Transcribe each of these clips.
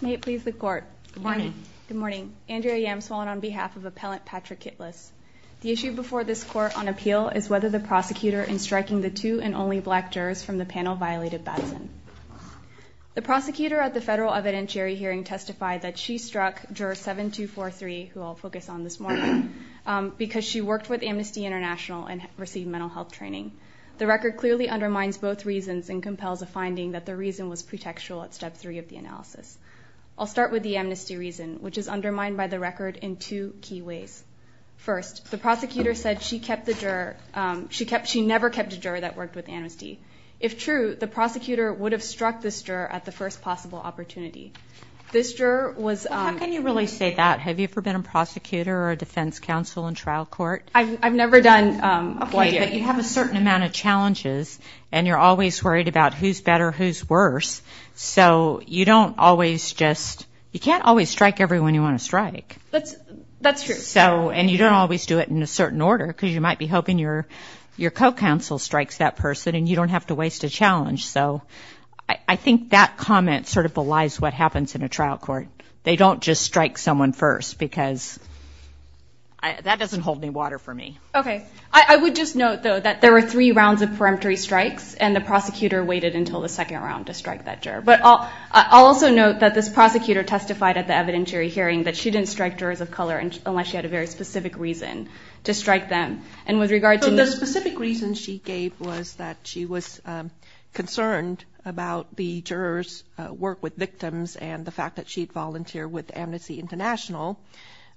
May it please the court. Good morning. Good morning. Andrea Yam, swollen on behalf of appellant Patrick Kitlas. The issue before this court on appeal is whether the prosecutor in striking the two and only black jurors from the panel violated Batson. The prosecutor at the federal evidentiary hearing testified that she struck juror 7243, who I'll focus on this morning, because she worked with Amnesty International and received mental health training. The record clearly undermines both reasons and compels a finding that the reason was pretextual at step three of the analysis. I'll start with the amnesty reason, which is undermined by the record in two key ways. First, the prosecutor said she kept the juror. She never kept a juror that worked with Amnesty. If true, the prosecutor would have struck this juror at the first possible opportunity. This juror was... How can you really say that? Have you ever been a prosecutor or a defense counsel in trial court? I've never done... Okay, but you have a certain amount of challenges and you're always worried about who's better, who's worse. So you don't always just... You can't always strike everyone you want to strike. That's true. And you don't always do it in a certain order, because you might be hoping your co-counsel strikes that person and you don't have to waste a challenge. So I think that comment sort of belies what happens in a trial court. They don't just strike someone first, because that doesn't hold any water for me. Okay. I would just note, though, that there were three rounds of peremptory strikes and the prosecutor waited until the second round to strike that juror. But I'll also note that this prosecutor testified at the evidentiary hearing that she didn't strike jurors of color unless she had a very specific reason to strike them. And with regard to... So the specific reason she gave was that she was concerned about the juror's work with victims and the fact that she had volunteered with Amnesty International,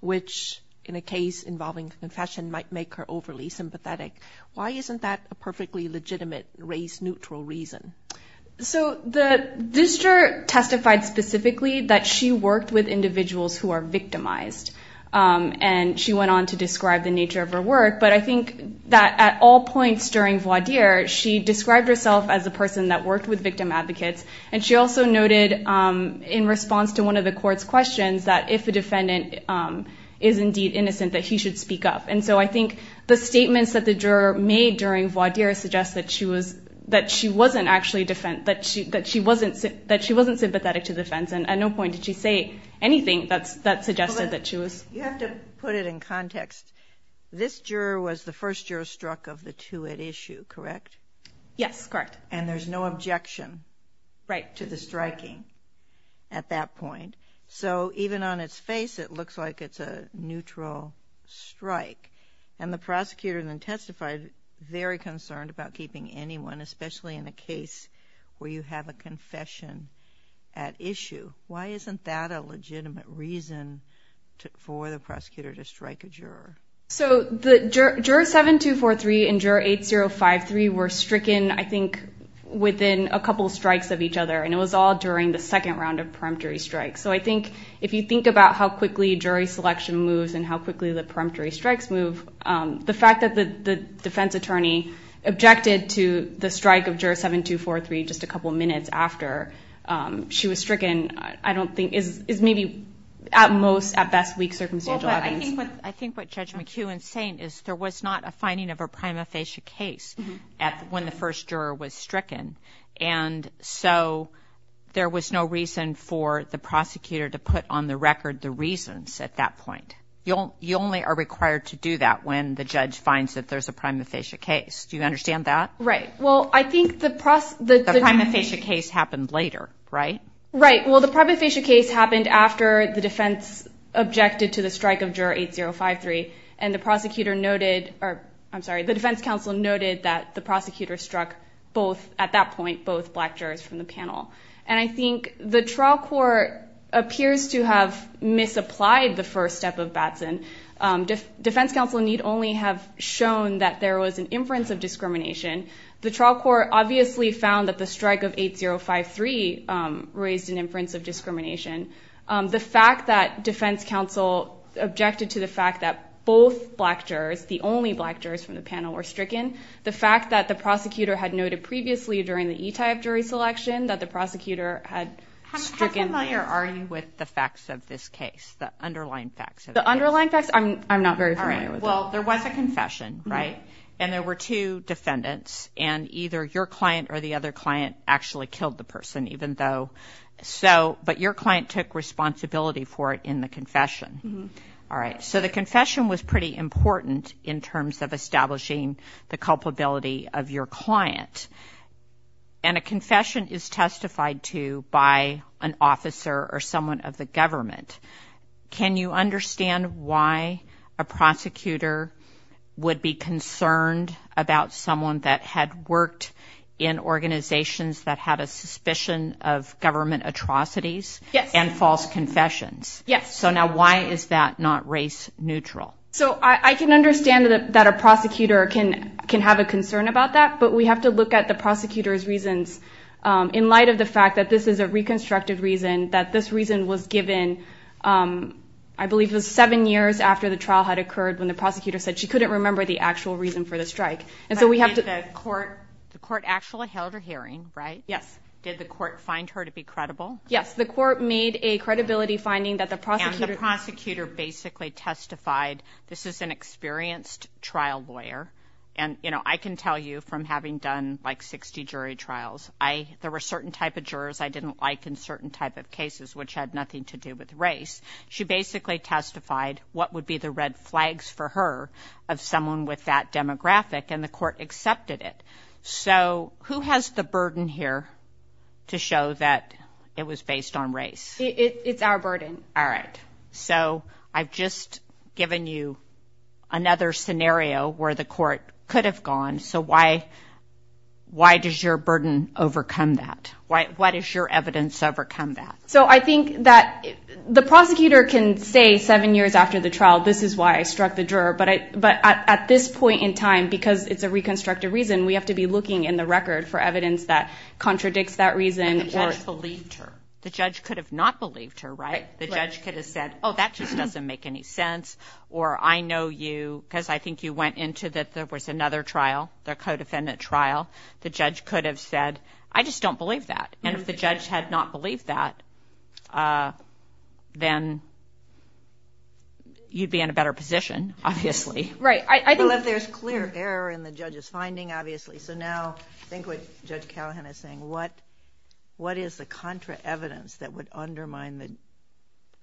which in a case involving confession might make her overly sympathetic. Why isn't that a perfectly legitimate race-neutral reason? So this juror testified specifically that she worked with individuals who are victimized. And she went on to describe the nature of her work. But I think that at all points during voir dire, she described herself as a person that worked with victim advocates. And she also noted, in response to one of the court's questions, that if a defendant is indeed innocent, that he should speak up. And so I think the statements that the juror made during voir dire suggest that she wasn't sympathetic to the defense. And at no point did she say anything that suggested that she was... You have to put it in context. This juror was the first juror struck of the two at issue, correct? Yes, correct. And there's no objection... Right. ...to the striking at that point. So even on its face, it looks like it's a neutral strike. And the prosecutor then testified, very concerned about keeping anyone, especially in a case where you have a confession at issue. Why isn't that a legitimate reason for the prosecutor to strike a juror? So juror 7243 and juror 8053 were stricken, I think, within a couple of strikes of each other. And it was all during the second round of peremptory strikes. So I think if you think about how quickly jury selection moves and how quickly the peremptory strikes move, the fact that the defense attorney objected to the strike of juror 7243 just a couple of minutes after she was stricken, I don't think, is maybe at most, at best, weak circumstantial evidence. Well, but I think what Judge McEwen's saying is there was not a finding of a prima facie case when the first juror was stricken. And so there was no reason for the prosecutor to put on the record the reasons at that point. You only are required to do that when the judge finds that there's a prima facie case. Do you understand that? Right. Well, I think the... The prima facie case happened later, right? Right. Well, the prima facie case happened after the defense objected to the strike of juror 8053. And the prosecutor noted, or I'm sorry, the defense counsel noted that the prosecutor struck both, at that point, both black jurors from the panel. And I think the case appears to have misapplied the first step of Batson. Defense counsel need only have shown that there was an inference of discrimination. The trial court obviously found that the strike of 8053 raised an inference of discrimination. The fact that defense counsel objected to the fact that both black jurors, the only black jurors from the panel, were stricken, the fact that the prosecutor had noted previously during the E-type jury selection that the prosecutor had stricken... How familiar are you with the facts of this case, the underlying facts of the case? The underlying facts? I'm not very familiar with them. All right. Well, there was a confession, right? And there were two defendants. And either your client or the other client actually killed the person, even though... So, but your client took responsibility for it in the confession. All right. So the confession was pretty important in terms of establishing the culpability of your client. And a confession is not an officer or someone of the government. Can you understand why a prosecutor would be concerned about someone that had worked in organizations that had a suspicion of government atrocities and false confessions? Yes. So now why is that not race neutral? So I can understand that a prosecutor can have a concern about that, but we have to the fact that this is a reconstructed reason, that this reason was given, I believe it was seven years after the trial had occurred when the prosecutor said she couldn't remember the actual reason for the strike. And so we have to... But did the court actually held her hearing, right? Yes. Did the court find her to be credible? Yes. The court made a credibility finding that the prosecutor... And the prosecutor basically testified, this is an experienced trial lawyer. And I can tell you from having done like 60 jury trials, there were certain type of jurors I didn't like in certain type of cases, which had nothing to do with race. She basically testified what would be the red flags for her of someone with that demographic and the court accepted it. So who has the burden here to show that it was based on race? It's our burden. All right. So I've just given you another scenario where the court could have gone. So why does your burden overcome that? What is your evidence overcome that? So I think that the prosecutor can say seven years after the trial, this is why I struck the juror. But at this point in time, because it's a reconstructed reason, we have to be looking in the record for evidence that contradicts that reason. The judge believed her. The judge could have not believed her, right? The judge could have said, oh, that just doesn't make any sense. Or I know you because I think you went into that there was another trial, the co-defendant trial. The judge could have said, I just don't believe that. And if the judge had not believed that, then you'd be in a better position, obviously. Right. Well, if there's clear error in the judge's finding, obviously. So now think what Judge what is the contra evidence that would undermine the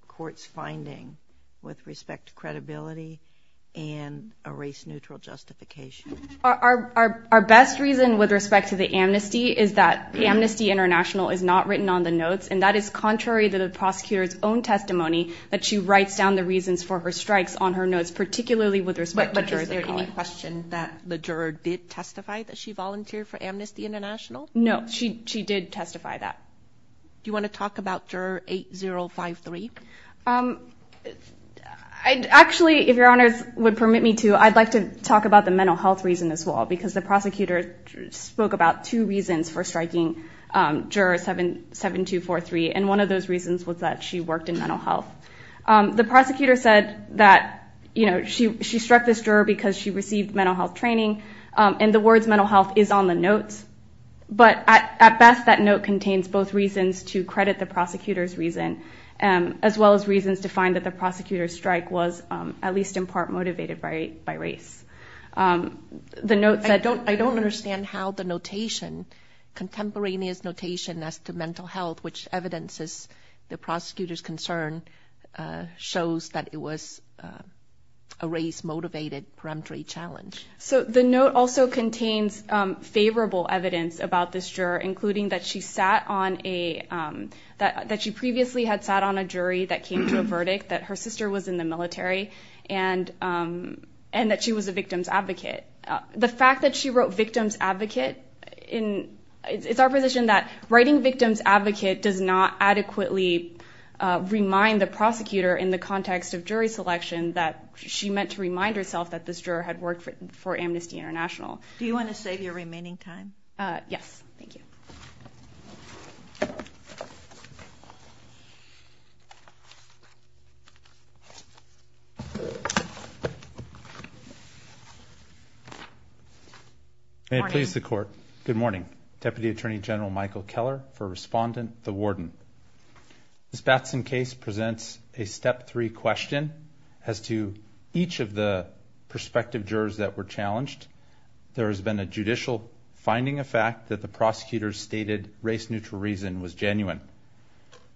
court's finding with respect to credibility and a race-neutral justification? Our best reason with respect to the amnesty is that the Amnesty International is not written on the notes. And that is contrary to the prosecutor's own testimony that she writes down the reasons for her strikes on her notes, particularly with respect to jurors. But is there any question that the juror did testify that she volunteered for Amnesty International? No, she did testify that. Do you want to talk about juror 8053? Actually, if your honors would permit me to, I'd like to talk about the mental health reason as well. Because the prosecutor spoke about two reasons for striking juror 7243. And one of those reasons was that she worked in mental health. The prosecutor said that she struck this juror because she received mental health training. And the words mental health is on the notes. But at best that note contains both reasons to credit the prosecutor's reason as well as reasons to find that the prosecutor's strike was at least in part motivated by race. I don't understand how the notation, contemporaneous notation as to mental health, which evidences the prosecutor's concern, shows that it was a race-motivated peremptory challenge. So the note also contains favorable evidence about this juror, including that she previously had sat on a jury that came to a verdict, that her sister was in the military, and that she was a victim's advocate. The fact that she wrote victim's advocate, it's our position that writing victim's advocate does not adequately remind the prosecutor in the context of jury for Amnesty International. Do you want to save your remaining time? Yes. Thank you. May it please the court. Good morning. Deputy Attorney General Michael Keller for Respondent, the Warden. This Batson case presents a step three question as to each of the prospective jurors that were challenged. There has been a judicial finding of fact that the prosecutor stated race-neutral reason was genuine.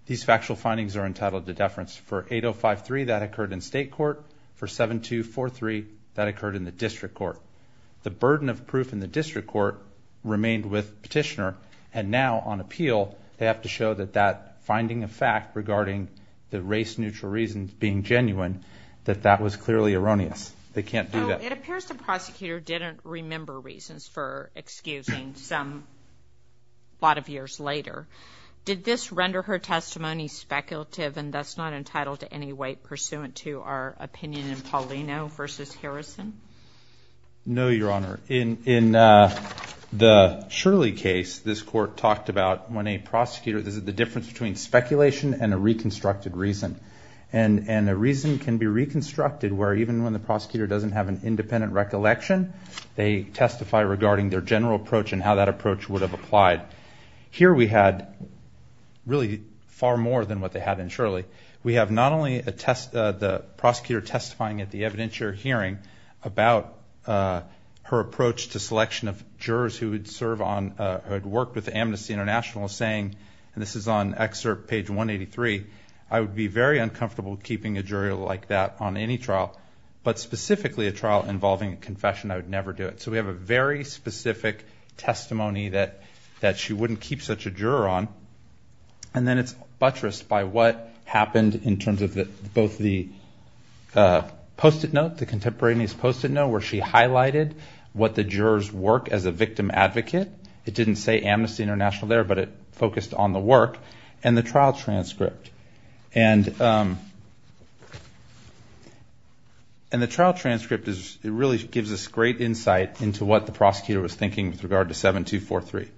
These factual findings are entitled to deference. For 8053, that occurred in state court. For 7243, that occurred in the district court. The burden of proof in the district court remained with petitioner, and now on appeal, they have to show that that finding of fact regarding the race-neutral reasons being genuine, that that was clearly erroneous. They can't do that. It appears the prosecutor didn't remember reasons for excusing a lot of years later. Did this render her testimony speculative and thus not entitled to any weight pursuant to our opinion in Paulino v. Harrison? No, Your Honor. In the Shirley case, this court talked about when a prosecutor, this is the difference between speculation and a reconstructed reason. A reason can be reconstructed where even when the prosecutor doesn't have an independent recollection, they testify regarding their general approach and how that approach would have applied. Here we had really far more than what they had in Shirley. We have not only the prosecutor testifying at the evidentiary hearing about her approach to selection of jurors who had worked with Amnesty International saying, and this is on excerpt page 183, I would be very uncomfortable keeping a juror like that on any trial, but specifically a trial involving a confession, I would never do it. So we have a very specific testimony that she wouldn't keep such a juror on. And then it's buttressed by what happened in terms of both the post-it note, the contemporaneous post-it note where she highlighted what the jurors work as a victim advocate. It didn't say Amnesty International there, but it focused on the work and the trial transcript. And the trial transcript really gives us great insight into what the prosecutor was thinking with regard to 7243.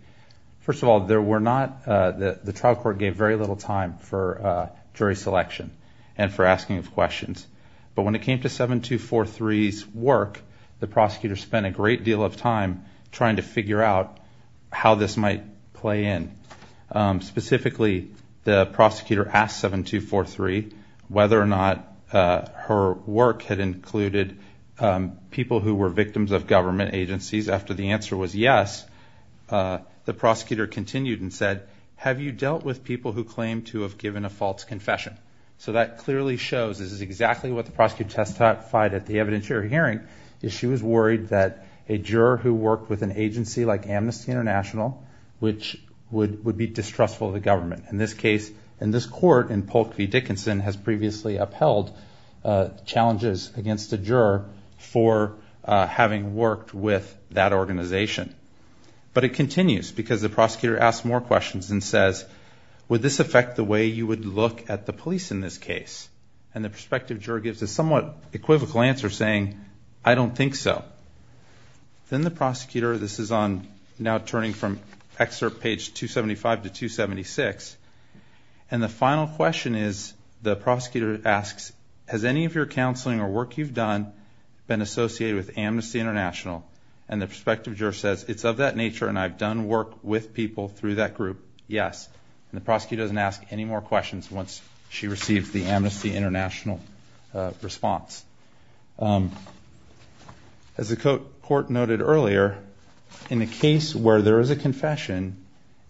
First of all, the trial court gave very little time for jury selection and for asking of questions. But when it came to 7243's work, the prosecutor spent a great deal of time trying to figure out how this might play in. Specifically, the prosecutor asked 7243 whether or not her work had included people who were victims of government agencies. After the answer was yes, the prosecutor continued and said, have you dealt with people who claim to have given a false confession? So that clearly shows this is exactly what the prosecutor testified at the evidentiary hearing, is she was worried that a juror who worked with an agency like Amnesty International, which would be distrustful of the government. In this case, in this court, in Polk v. Dickinson, has previously upheld challenges against a juror for having worked with that organization. But it continues because the prosecutor asks more questions and says, would this affect the way you would look at the police in this case? And the prospective juror gives a somewhat equivocal answer saying, I don't think so. Then the prosecutor, this is now turning from excerpt page 275 to 276, and the final question is, the prosecutor asks, has any of your counseling or work you've done been associated with Amnesty International? And the prospective juror says, it's of that nature and I've done work with people through that group. Yes. And the prosecutor doesn't ask any more questions once she receives the Amnesty International response. As the court noted earlier, in a case where there is a confession,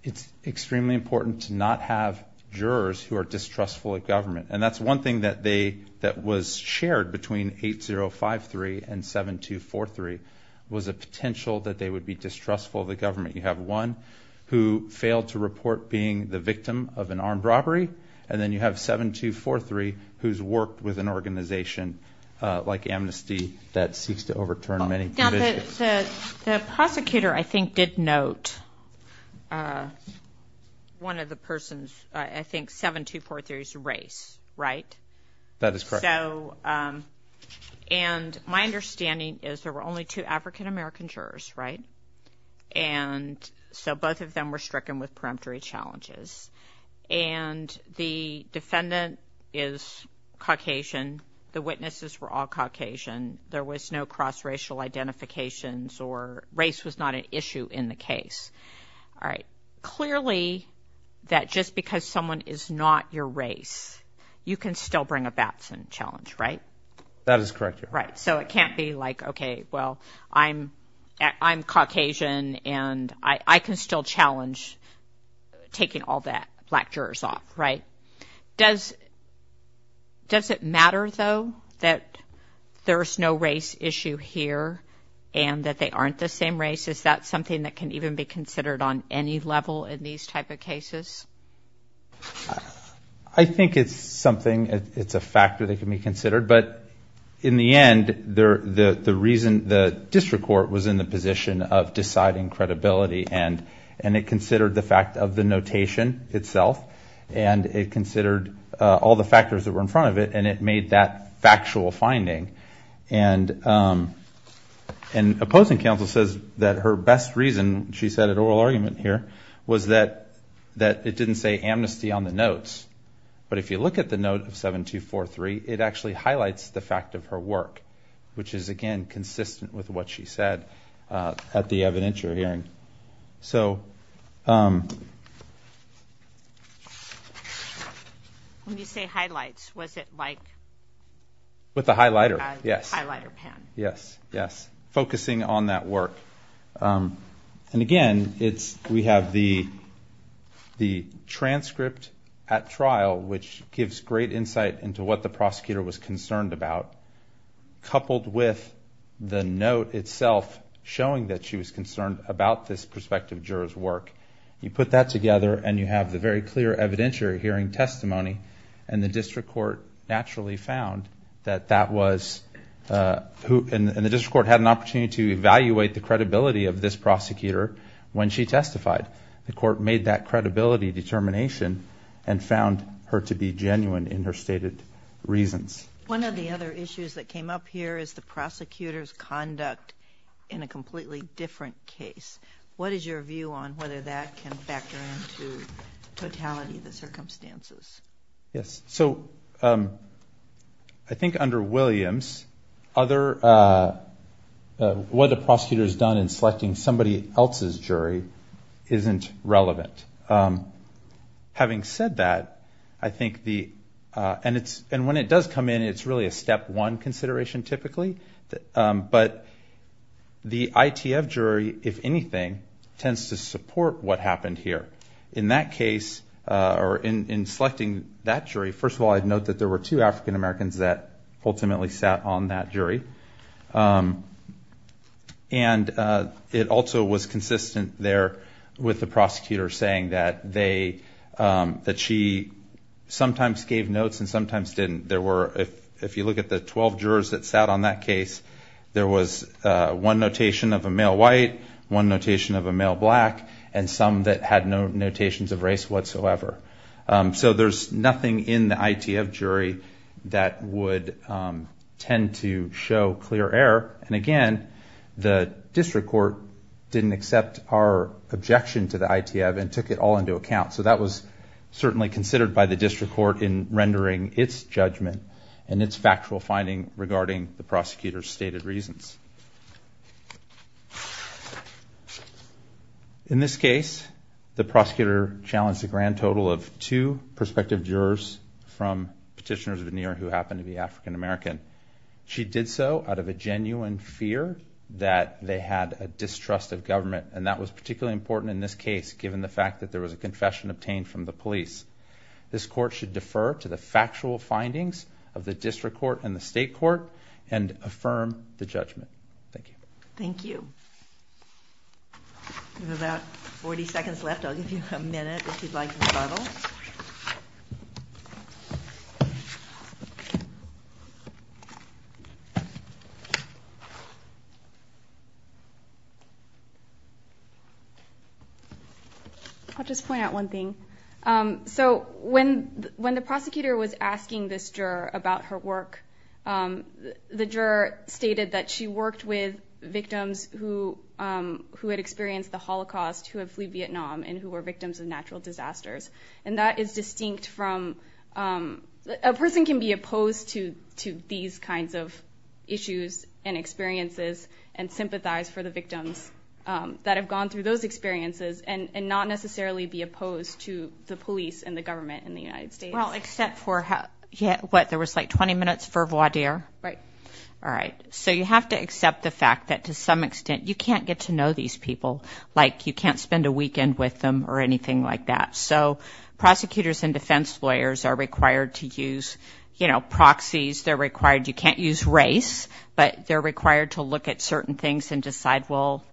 it's extremely important to not have jurors who are distrustful of government. And that's one thing that was shared between 8053 and 7243, was a potential that they would be distrustful of the government. You have one who failed to report being the victim of an armed robbery, and then you have 7243 who's worked with an organization like Amnesty that seeks to overturn many provisions. The prosecutor, I think, did note one of the persons, I think 7243's race, right? That is correct. And my understanding is there were only two African-American jurors, right? And so both of them were stricken with peremptory challenges. And the defendant is Caucasian. The witnesses were all Caucasian. There was no cross-racial identifications or race was not an issue in the case. All right. Clearly, that just because someone is not your race, you can still bring a Batson challenge, right? That is correct. Right, so it can't be like, okay, well, I'm Caucasian, and I can still challenge taking all the black jurors off, right? Does it matter, though, that there's no race issue here and that they aren't the same race? Is that something that can even be considered on any level in these type of cases? I think it's something, it's a factor that can be considered. But in the end, the reason the district court was in the position of deciding credibility, and it considered the fact of the notation itself, and it considered all the factors that were in front of it, and it made that factual finding. And opposing counsel says that her best reason, she said at oral argument here, was that it didn't say amnesty on the notes. But if you look at the note of 7243, it actually highlights the fact of her work, which is, again, consistent with what she said at the evidentiary hearing. So... When you say highlights, was it like... With the highlighter, yes. A highlighter pen. Yes, yes, focusing on that work. And again, we have the transcript at trial, which gives great insight into what the prosecutor was concerned about, coupled with the note itself showing that she was concerned about this prospective juror's work. You put that together, and you have the very clear evidentiary hearing testimony, and the district court naturally found that that was... And the district court had an opportunity to evaluate the credibility of this prosecutor when she testified. The court made that credibility determination and found her to be genuine in her stated reasons. One of the other issues that came up here is the prosecutor's conduct in a completely different case. What is your view on whether that can factor into totality of the circumstances? Yes, so I think under Williams, what the prosecutor's done in selecting somebody else's jury isn't relevant. Having said that, I think the... And when it does come in, it's really a step one consideration typically. But the ITF jury, if anything, tends to support what happened here. In that case, or in selecting that jury, first of all, I'd note that there were two African Americans that ultimately sat on that jury. And it also was consistent there with the prosecutor saying that they... That she sometimes gave notes and sometimes didn't. There were, if you look at the 12 jurors that sat on that case, there was one notation of a male white, one notation of a male black, and some that had no notations of race whatsoever. So there's nothing in the ITF jury that would tend to show clear error. And again, the district court didn't accept our objection to the ITF and took it all into account. So that was certainly considered by the district court in rendering its judgment and its factual finding regarding the prosecutor's stated reasons. In this case, the prosecutor challenged a grand total of two prospective jurors from Petitioners of New York who happened to be African American. She did so out of a genuine fear that they had a distrust of government. And that was particularly important in this case, given the fact that there was a confession obtained from the police. This court should defer to the factual findings of the district court and the state court and affirm the judgment. Thank you. Thank you. We have about 40 seconds left. I'll give you a minute if you'd like to start off. I'll just point out one thing. So when the prosecutor was asking this juror about her work, the juror stated that she worked with victims who had experienced the Holocaust, who had fled Vietnam, and who were victims of natural disasters. And that is distinct from – a person can be opposed to these kinds of issues and experiences and sympathize for the victims that have gone through those experiences and not necessarily be opposed to the police and the government in the United States. Well, except for – what, there was like 20 minutes for voir dire? Right. All right. So you have to accept the fact that to some extent you can't get to know these people, like you can't spend a weekend with them or anything like that. So prosecutors and defense lawyers are required to use, you know, proxies. They're required – you can't use race, but they're required to look at certain things and decide, well,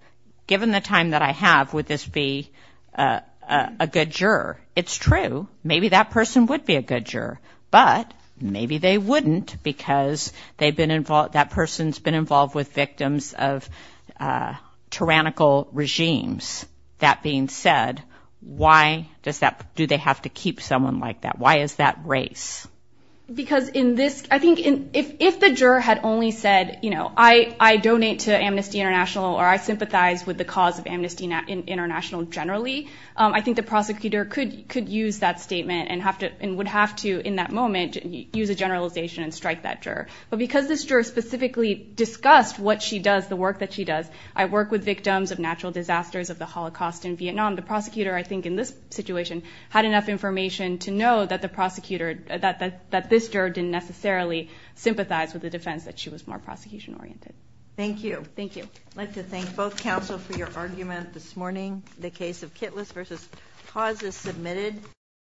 given the time that I have, would this be a good juror? It's true. Maybe that person would be a good juror, but maybe they wouldn't because they've been – that person's been involved with victims of tyrannical regimes. That being said, why does that – do they have to keep someone like that? Why is that race? Because in this – I think if the juror had only said, you know, I donate to Amnesty International or I sympathize with the cause of Amnesty International generally, I think the prosecutor could use that statement and would have to in that moment use a generalization and strike that juror. But because this juror specifically discussed what she does, the work that she does, I work with victims of natural disasters of the Holocaust in Vietnam, the prosecutor I think in this situation had enough information to know that the prosecutor – that this juror didn't necessarily sympathize with the defense that she was more prosecution-oriented. Thank you. Thank you. Thank you also for your argument this morning. The case of Kitlas v. Hawes is submitted.